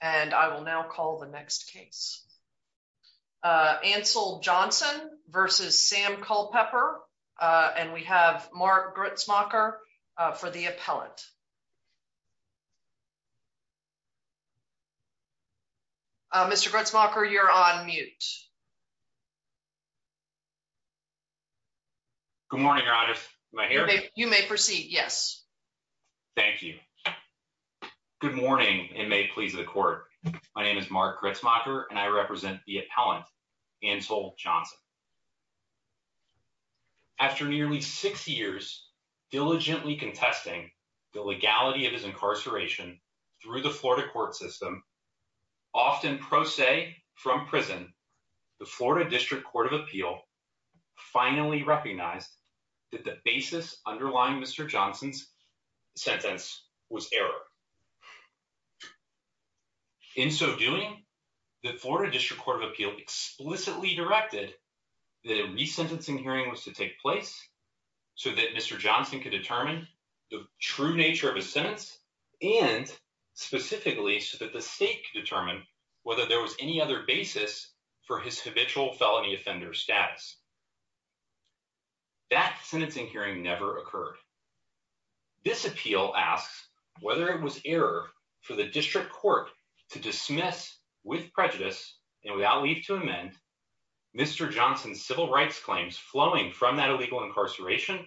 and I will now call the next case. Ansel Johnson v. Sam Culpepper and we have Mark Gritzmacher for the appellant. Mr. Gritzmacher, you're on mute. Good morning, Your Honor. Am I here? You may proceed, yes. Thank you. Good morning, and may it please the Court. My name is Mark Gritzmacher, and I represent the appellant Ansel Johnson. After nearly six years diligently contesting the legality of his incarceration through the Florida court system, often pro se from prison, the Florida District Court of Appeal finally recognized that the basis underlying Mr. Johnson's sentence was error. In so doing, the Florida District Court of Appeal explicitly directed that a resentencing hearing was to take place so that Mr. Johnson could determine the true nature of his sentence and specifically so that the state could determine whether there was any other basis for his habitual felony offender status. That sentencing hearing never occurred. This appeal asks whether it was error for the district court to dismiss, with prejudice and without leave to amend, Mr. Johnson's civil rights claims flowing from that illegal incarceration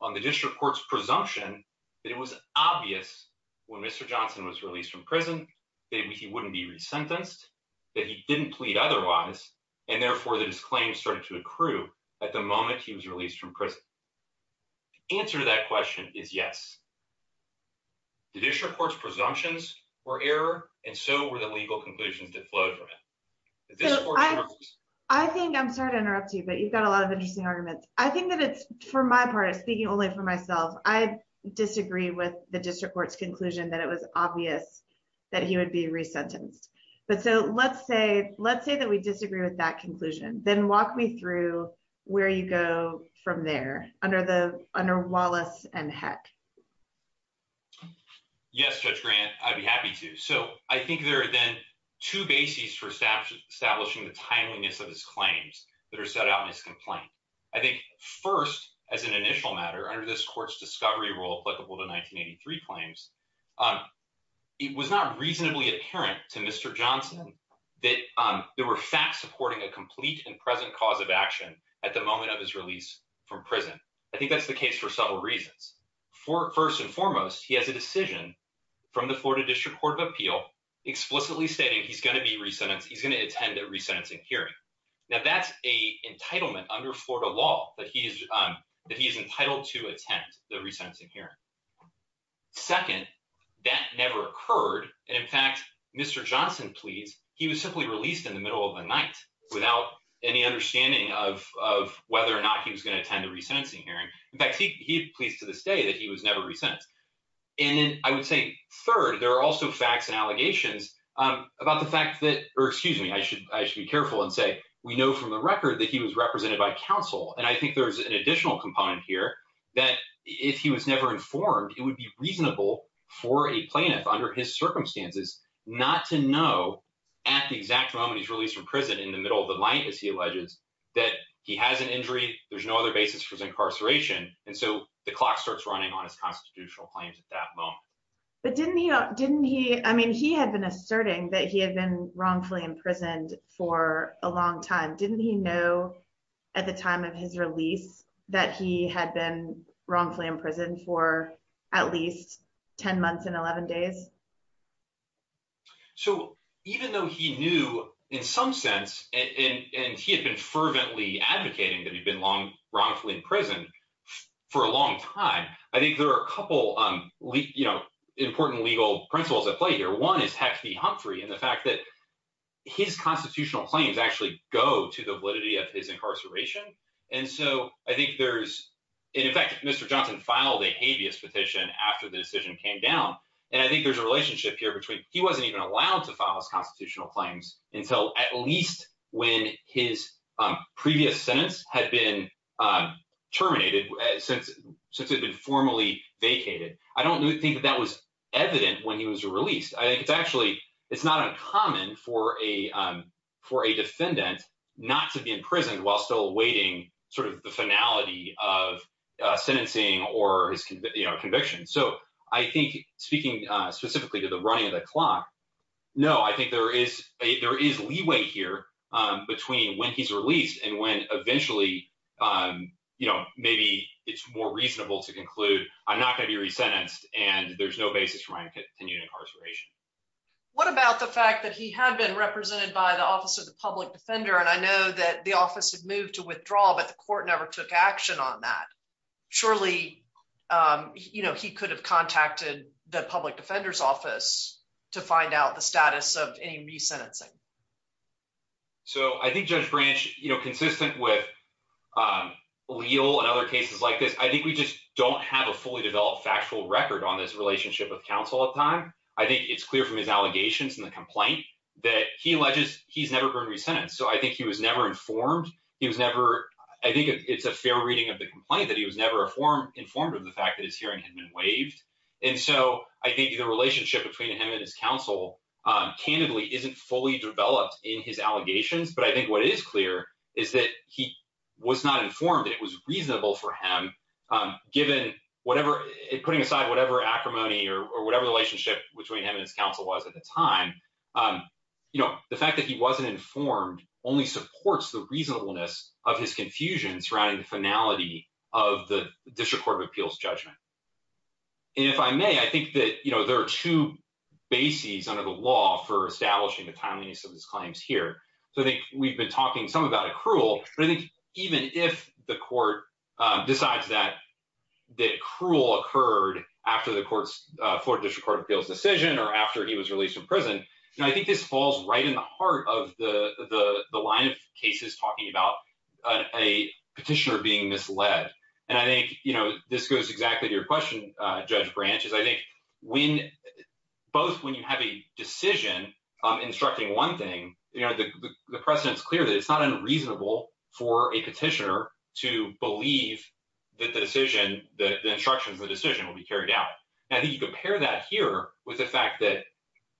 on the district court's presumption that it was obvious when Mr. Johnson was released from prison that he wouldn't be resentenced, that he didn't plead otherwise, and therefore that his claims started to accrue at the moment he was released from prison. The answer to that question is yes. The district court's presumptions were error, and so were the legal conclusions that flowed from it. I think, I'm sorry to interrupt you, but you've got a lot of interesting arguments. I think that it's, for my part, speaking only for myself, I disagree with the district court's conclusion that it was obvious that he would be resentenced. But so let's say that we disagree with that under Wallace and Heck. Yes, Judge Grant, I'd be happy to. So I think there are then two bases for establishing the timeliness of his claims that are set out in his complaint. I think first, as an initial matter, under this court's discovery rule applicable to 1983 claims, it was not reasonably apparent to Mr. Johnson that there were facts supporting a complete and I think that's the case for several reasons. First and foremost, he has a decision from the Florida District Court of Appeal explicitly stating he's going to be resentenced, he's going to attend a resentencing hearing. Now that's a entitlement under Florida law that he is entitled to attend the resentencing hearing. Second, that never occurred, and in fact, Mr. Johnson pleads, he was simply released in the middle of the night without any understanding of whether or not he was going to attend the resentencing hearing. In fact, he pleads to this day that he was never resentenced. And then I would say third, there are also facts and allegations about the fact that, or excuse me, I should be careful and say, we know from the record that he was represented by counsel. And I think there's an additional component here that if he was never informed, it would be reasonable for a plaintiff under his circumstances not to know at the exact moment he's released from prison in the middle of the night, as he alleges, that he has an injury, there's no other basis for his incarceration. And so the clock starts running on his constitutional claims at that moment. But didn't he, didn't he, I mean, he had been asserting that he had been wrongfully imprisoned for a long time. Didn't he know at the time of his release that he had been wrongfully imprisoned for at least 10 months and 11 days? So even though he knew in some sense, and he had been fervently advocating that he'd been wrongfully imprisoned for a long time, I think there are a couple important legal principles at play here. One is Hex v. Humphrey and the fact that his constitutional claims actually go to the validity of his incarceration. And so I think there's, and in fact, Mr. Johnson filed a habeas petition after the decision came down. And I think there's a relationship here between he wasn't even allowed to file his constitutional claims until at least when his previous sentence had been terminated since it had been formally vacated. I don't think that that was evident when he was released. I think it's actually, it's not uncommon for a defendant not to be imprisoned while still awaiting sort of the finality of sentencing or his conviction. So I think speaking specifically to the running of the clock, no, I think there is a, there is leeway here between when he's released and when eventually, you know, maybe it's more reasonable to conclude I'm not going to be resentenced and there's no basis for my continued incarceration. What about the fact that he had been represented by the Office of the Public Defender? And I know that the office had moved to withdraw, but the court never took action on that. Surely, you know, he could have the public defender's office to find out the status of any resentencing. So I think Judge Branch, you know, consistent with Leal and other cases like this, I think we just don't have a fully developed factual record on this relationship with counsel at the time. I think it's clear from his allegations and the complaint that he alleges he's never been resentenced. So I think he was never informed. He was never, I think it's a fair reading of the complaint that he was never informed of the fact that his hearing had been waived. And so I think the relationship between him and his counsel candidly isn't fully developed in his allegations. But I think what is clear is that he was not informed that it was reasonable for him given whatever, putting aside whatever acrimony or whatever relationship between him and his counsel was at the time. You know, the fact that he wasn't informed only supports the reasonableness of his confusion surrounding the finality of the District Court of Appeals judgment. And if I may, I think that, you know, there are two bases under the law for establishing the timeliness of his claims here. So I think we've been talking some about accrual, but I think even if the court decides that accrual occurred after the court's Florida District Court of Appeals decision or after he was released from prison, you know, I think this falls right in heart of the line of cases talking about a petitioner being misled. And I think, you know, this goes exactly to your question, Judge Branch, is I think when both when you have a decision instructing one thing, you know, the precedent's clear that it's not unreasonable for a petitioner to believe that the decision, the instructions of the decision will be carried out. And I think you compare that here with the fact that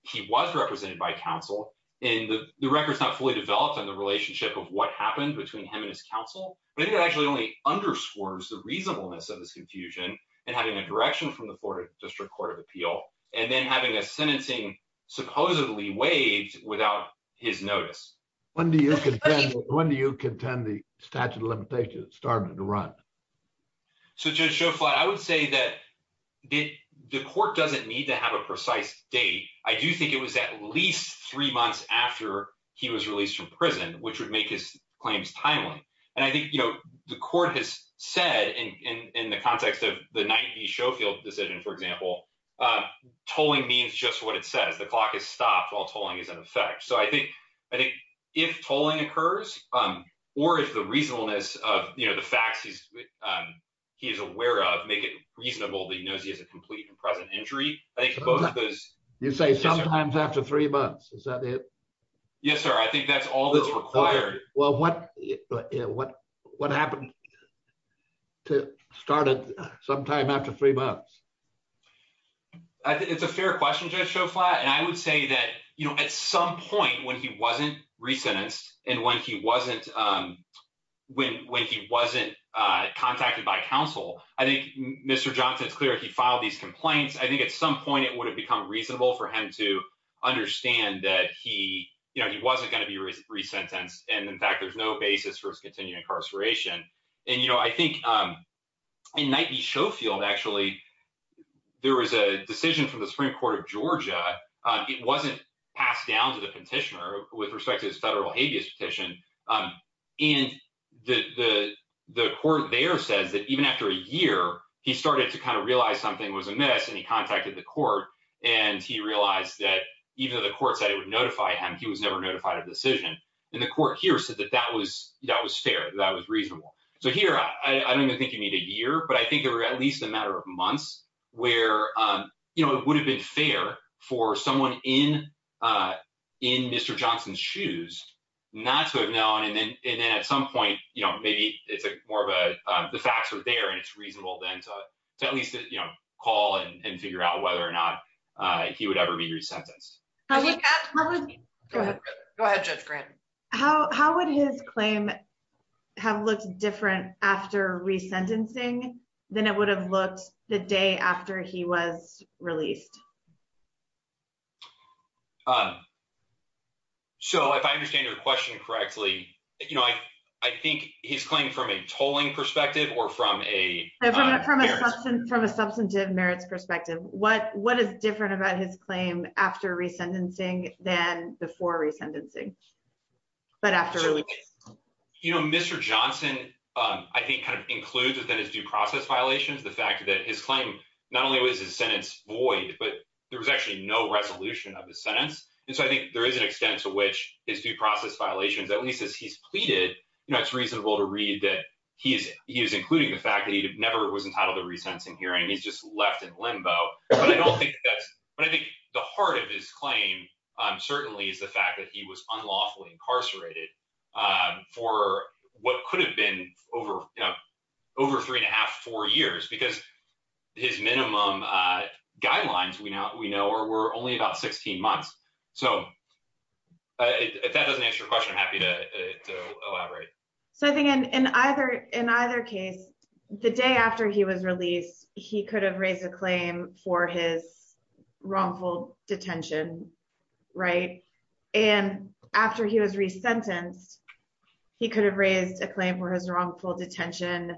he was represented by counsel and the record is not fully developed on the relationship of what happened between him and his counsel, but it actually only underscores the reasonableness of this confusion and having a direction from the Florida District Court of Appeal and then having a sentencing supposedly waived without his notice. When do you contend the statute of limitations started to run? So, Judge Schofield, I would say that the court doesn't need to have a precise date. I do think it was at least three months after he was released from prison, which would make his claims timely. And I think, you know, the court has said in the context of the 90 Schofield decision, for example, tolling means just what it says. The clock has stopped while tolling is in effect. So I think if tolling occurs or if the reasonableness of, you know, facts he's aware of make it reasonable that he knows he has a complete and present injury. You say sometimes after three months, is that it? Yes, sir. I think that's all that's required. Well, what happened to start it sometime after three months? It's a fair question, Judge Schofield. And I would say that, you know, at some point when he wasn't resentenced and when he wasn't when when he wasn't contacted by counsel, I think, Mr. Johnson, it's clear he filed these complaints. I think at some point it would have become reasonable for him to understand that he, you know, he wasn't going to be resentenced. And in fact, there's no basis for his continued incarceration. And, you know, I think in 90 Schofield, actually, there was a decision from the Supreme Court of Georgia. It wasn't passed down to the petitioner with respect to his federal habeas petition. And the court there says that even after a year, he started to kind of realize something was amiss, and he contacted the court. And he realized that even though the court said it would notify him, he was never notified of the decision. And the court here said that that was fair, that was reasonable. So here, I don't even think you need a year, but I think there were at least a matter of months where, you know, it would have been fair for someone in in Mr. Johnson's shoes, not to have known. And then at some point, you know, maybe it's more of a, the facts are there, and it's reasonable then to at least, you know, call and figure out whether or not he would ever be resentenced. Go ahead, Judge Grant. How would his claim have looked different after resentencing than it would have looked the day after he was released? So if I understand your question correctly, you know, I think he's claimed from a tolling perspective or from a... From a substantive merits perspective. What is different about his claim after resentencing than before resentencing? But after release? You know, Mr. Johnson, I think kind of includes within his due process violations, the fact that his claim, not only was his sentence void, but there was actually no resolution of the sentence. And so I think there is an extent to which his due process violations, at least as he's pleaded, you know, it's reasonable to read that he is including the fact that he never was entitled to resensing hearing. He's just left in limbo. But I don't think that's... But I think the heart of his claim certainly is the fact that he was unlawfully incarcerated for what could have been over, you know, over three and a half, four years, because his minimum guidelines we know were only about 16 months. So if that doesn't answer your question, I'm happy to elaborate. So I think in either case, the day after he was released, he could have raised a claim for his wrongful detention, right? And after he was resentenced, he could have raised a claim for his wrongful detention,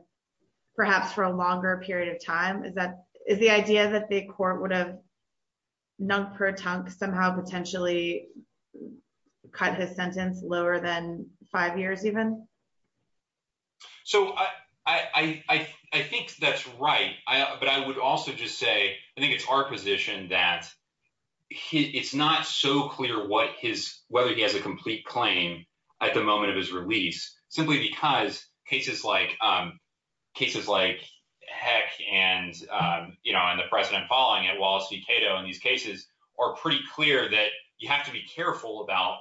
perhaps for a longer period of time. Is the idea that the court would have nunk per tunk somehow potentially cut his sentence lower than five years even? So I think that's right. But I would also just say, I think it's our position that it's not so clear whether he has a complete claim at the moment of his release, simply because cases like Heck and, you know, and the precedent falling at Wallace v. Cato in these cases are pretty clear that you have to be careful about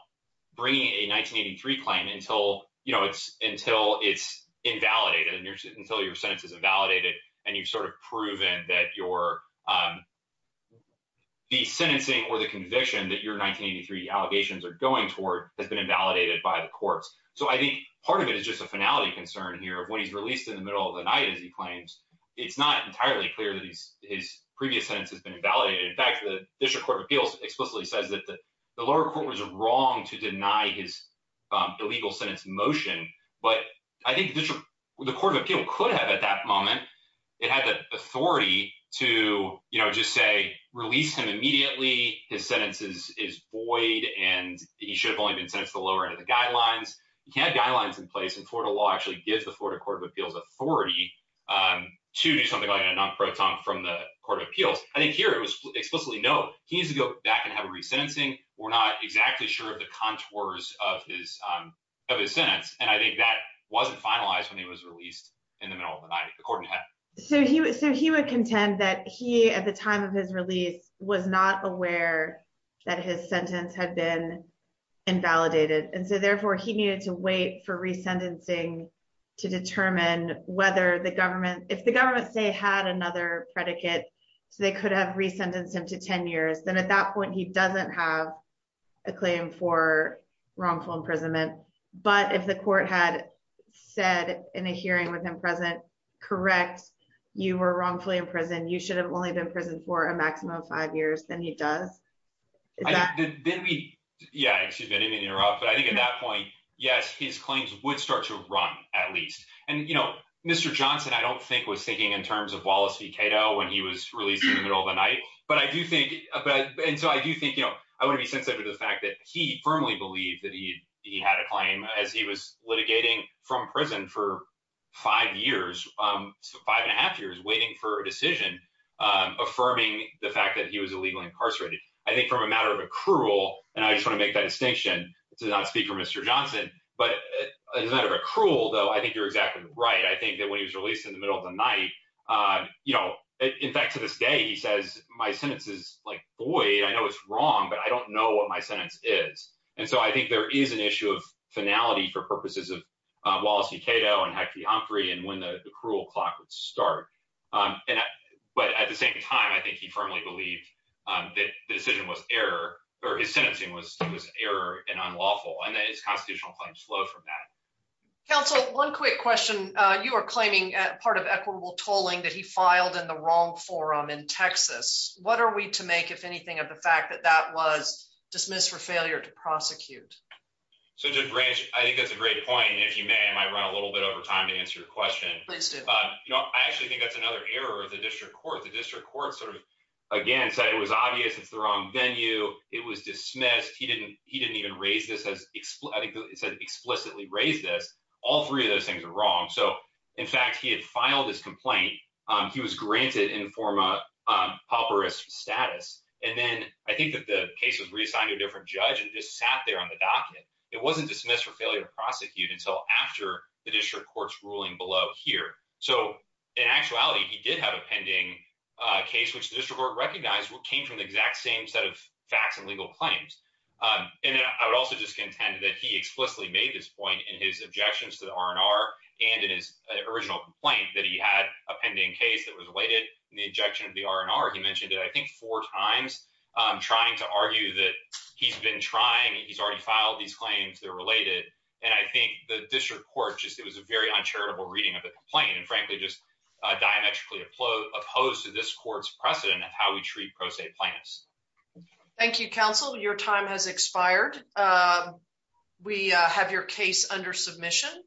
bringing a 1983 claim until, you know, it's until it's invalidated, until your sentence is invalidated. And you've sort of proven that the sentencing or the conviction that your 1983 allegations are going toward has been invalidated by the courts. So I think part of it is just a finality concern here of when he's released in the middle of the night, as he claims, it's not entirely clear that his previous sentence has been invalidated. In fact, the District Court of Appeals explicitly says that the lower court was wrong to deny his illegal sentence motion. But I think the Court of Appeal could have at that moment, it had the authority to, you know, just say, release him immediately. His sentence is void, and he should have only been sentenced to the lower end of the guidelines. He had guidelines in place, and Florida law actually gives the Florida Court of Appeals authority to do something like a non-proton from the Court of Appeals. I think here it was explicitly no, he needs to go back and have a re-sentencing. We're not exactly sure of the contours of his sentence. And I think that wasn't finalized when he was released in the middle of the night, according to Heck. So he would contend that he, at the time of his release, was not aware that his sentence had been invalidated. And so therefore, he needed to wait for re-sentencing to determine whether the government, if the government say had another predicate, so they could have re-sentenced him to 10 years, then at that point, he doesn't have a claim for wrongful imprisonment. But if the court had said in a hearing with him present, correct, you were wrongfully imprisoned, you should have only been prisoned for a maximum of five years, then he does. Yeah, excuse me, I didn't mean to interrupt. But I think at that point, yes, his claims would start to run, at least. And Mr. Johnson, I don't think was thinking in terms of Wallace v. Cato when he was released in the middle of the night. And so I do think, I want to be sensitive to the fact that he firmly believed that he had a claim as he was litigating from prison for five years, five and a half years, waiting for a decision affirming the fact that he was illegally incarcerated. I think from a matter of accrual, and I just want to make that distinction to not speak for Mr. Johnson, but as a matter of accrual, though, I think you're exactly right. I think that when he was released in the middle of the night, you know, in fact, to this day, he says, my sentence is void. I know it's wrong, but I don't know what my sentence is. And so I think there is an issue of finality for purposes of Wallace v. Cato and Hector Humphrey and when the accrual clock would start. But at the same time, I think he firmly believed that the decision was error, or his sentencing was error and unlawful, and that his constitutional claims flow from that. Counsel, one quick question. You are claiming part of equitable tolling that he filed in the fact that that was dismissed for failure to prosecute. So, Judge Branch, I think that's a great point. And if you may, I might run a little bit over time to answer your question. Please do. You know, I actually think that's another error of the district court. The district court sort of, again, said it was obvious it's the wrong venue. It was dismissed. He didn't even raise this as explicitly raised this. All three of those things are wrong. So, in fact, he had filed his complaint. He was granted informa pauperis status. And then I think that the case was reassigned to a different judge and just sat there on the docket. It wasn't dismissed for failure to prosecute until after the district court's ruling below here. So, in actuality, he did have a pending case, which the district court recognized came from the exact same set of facts and legal claims. And I would also just contend that he explicitly made this point in his objections to the R&R and in his original complaint that he had a pending case that was related in the injection of the R&R. He mentioned it, I think, four times, trying to argue that he's been trying. He's already filed these claims. They're related. And I think the district court just it was a very uncharitable reading of the complaint and, frankly, just diametrically opposed to this court's precedent of how we treat pro se plaintiffs. Thank you, counsel. Your time has expired. We have your case under submission.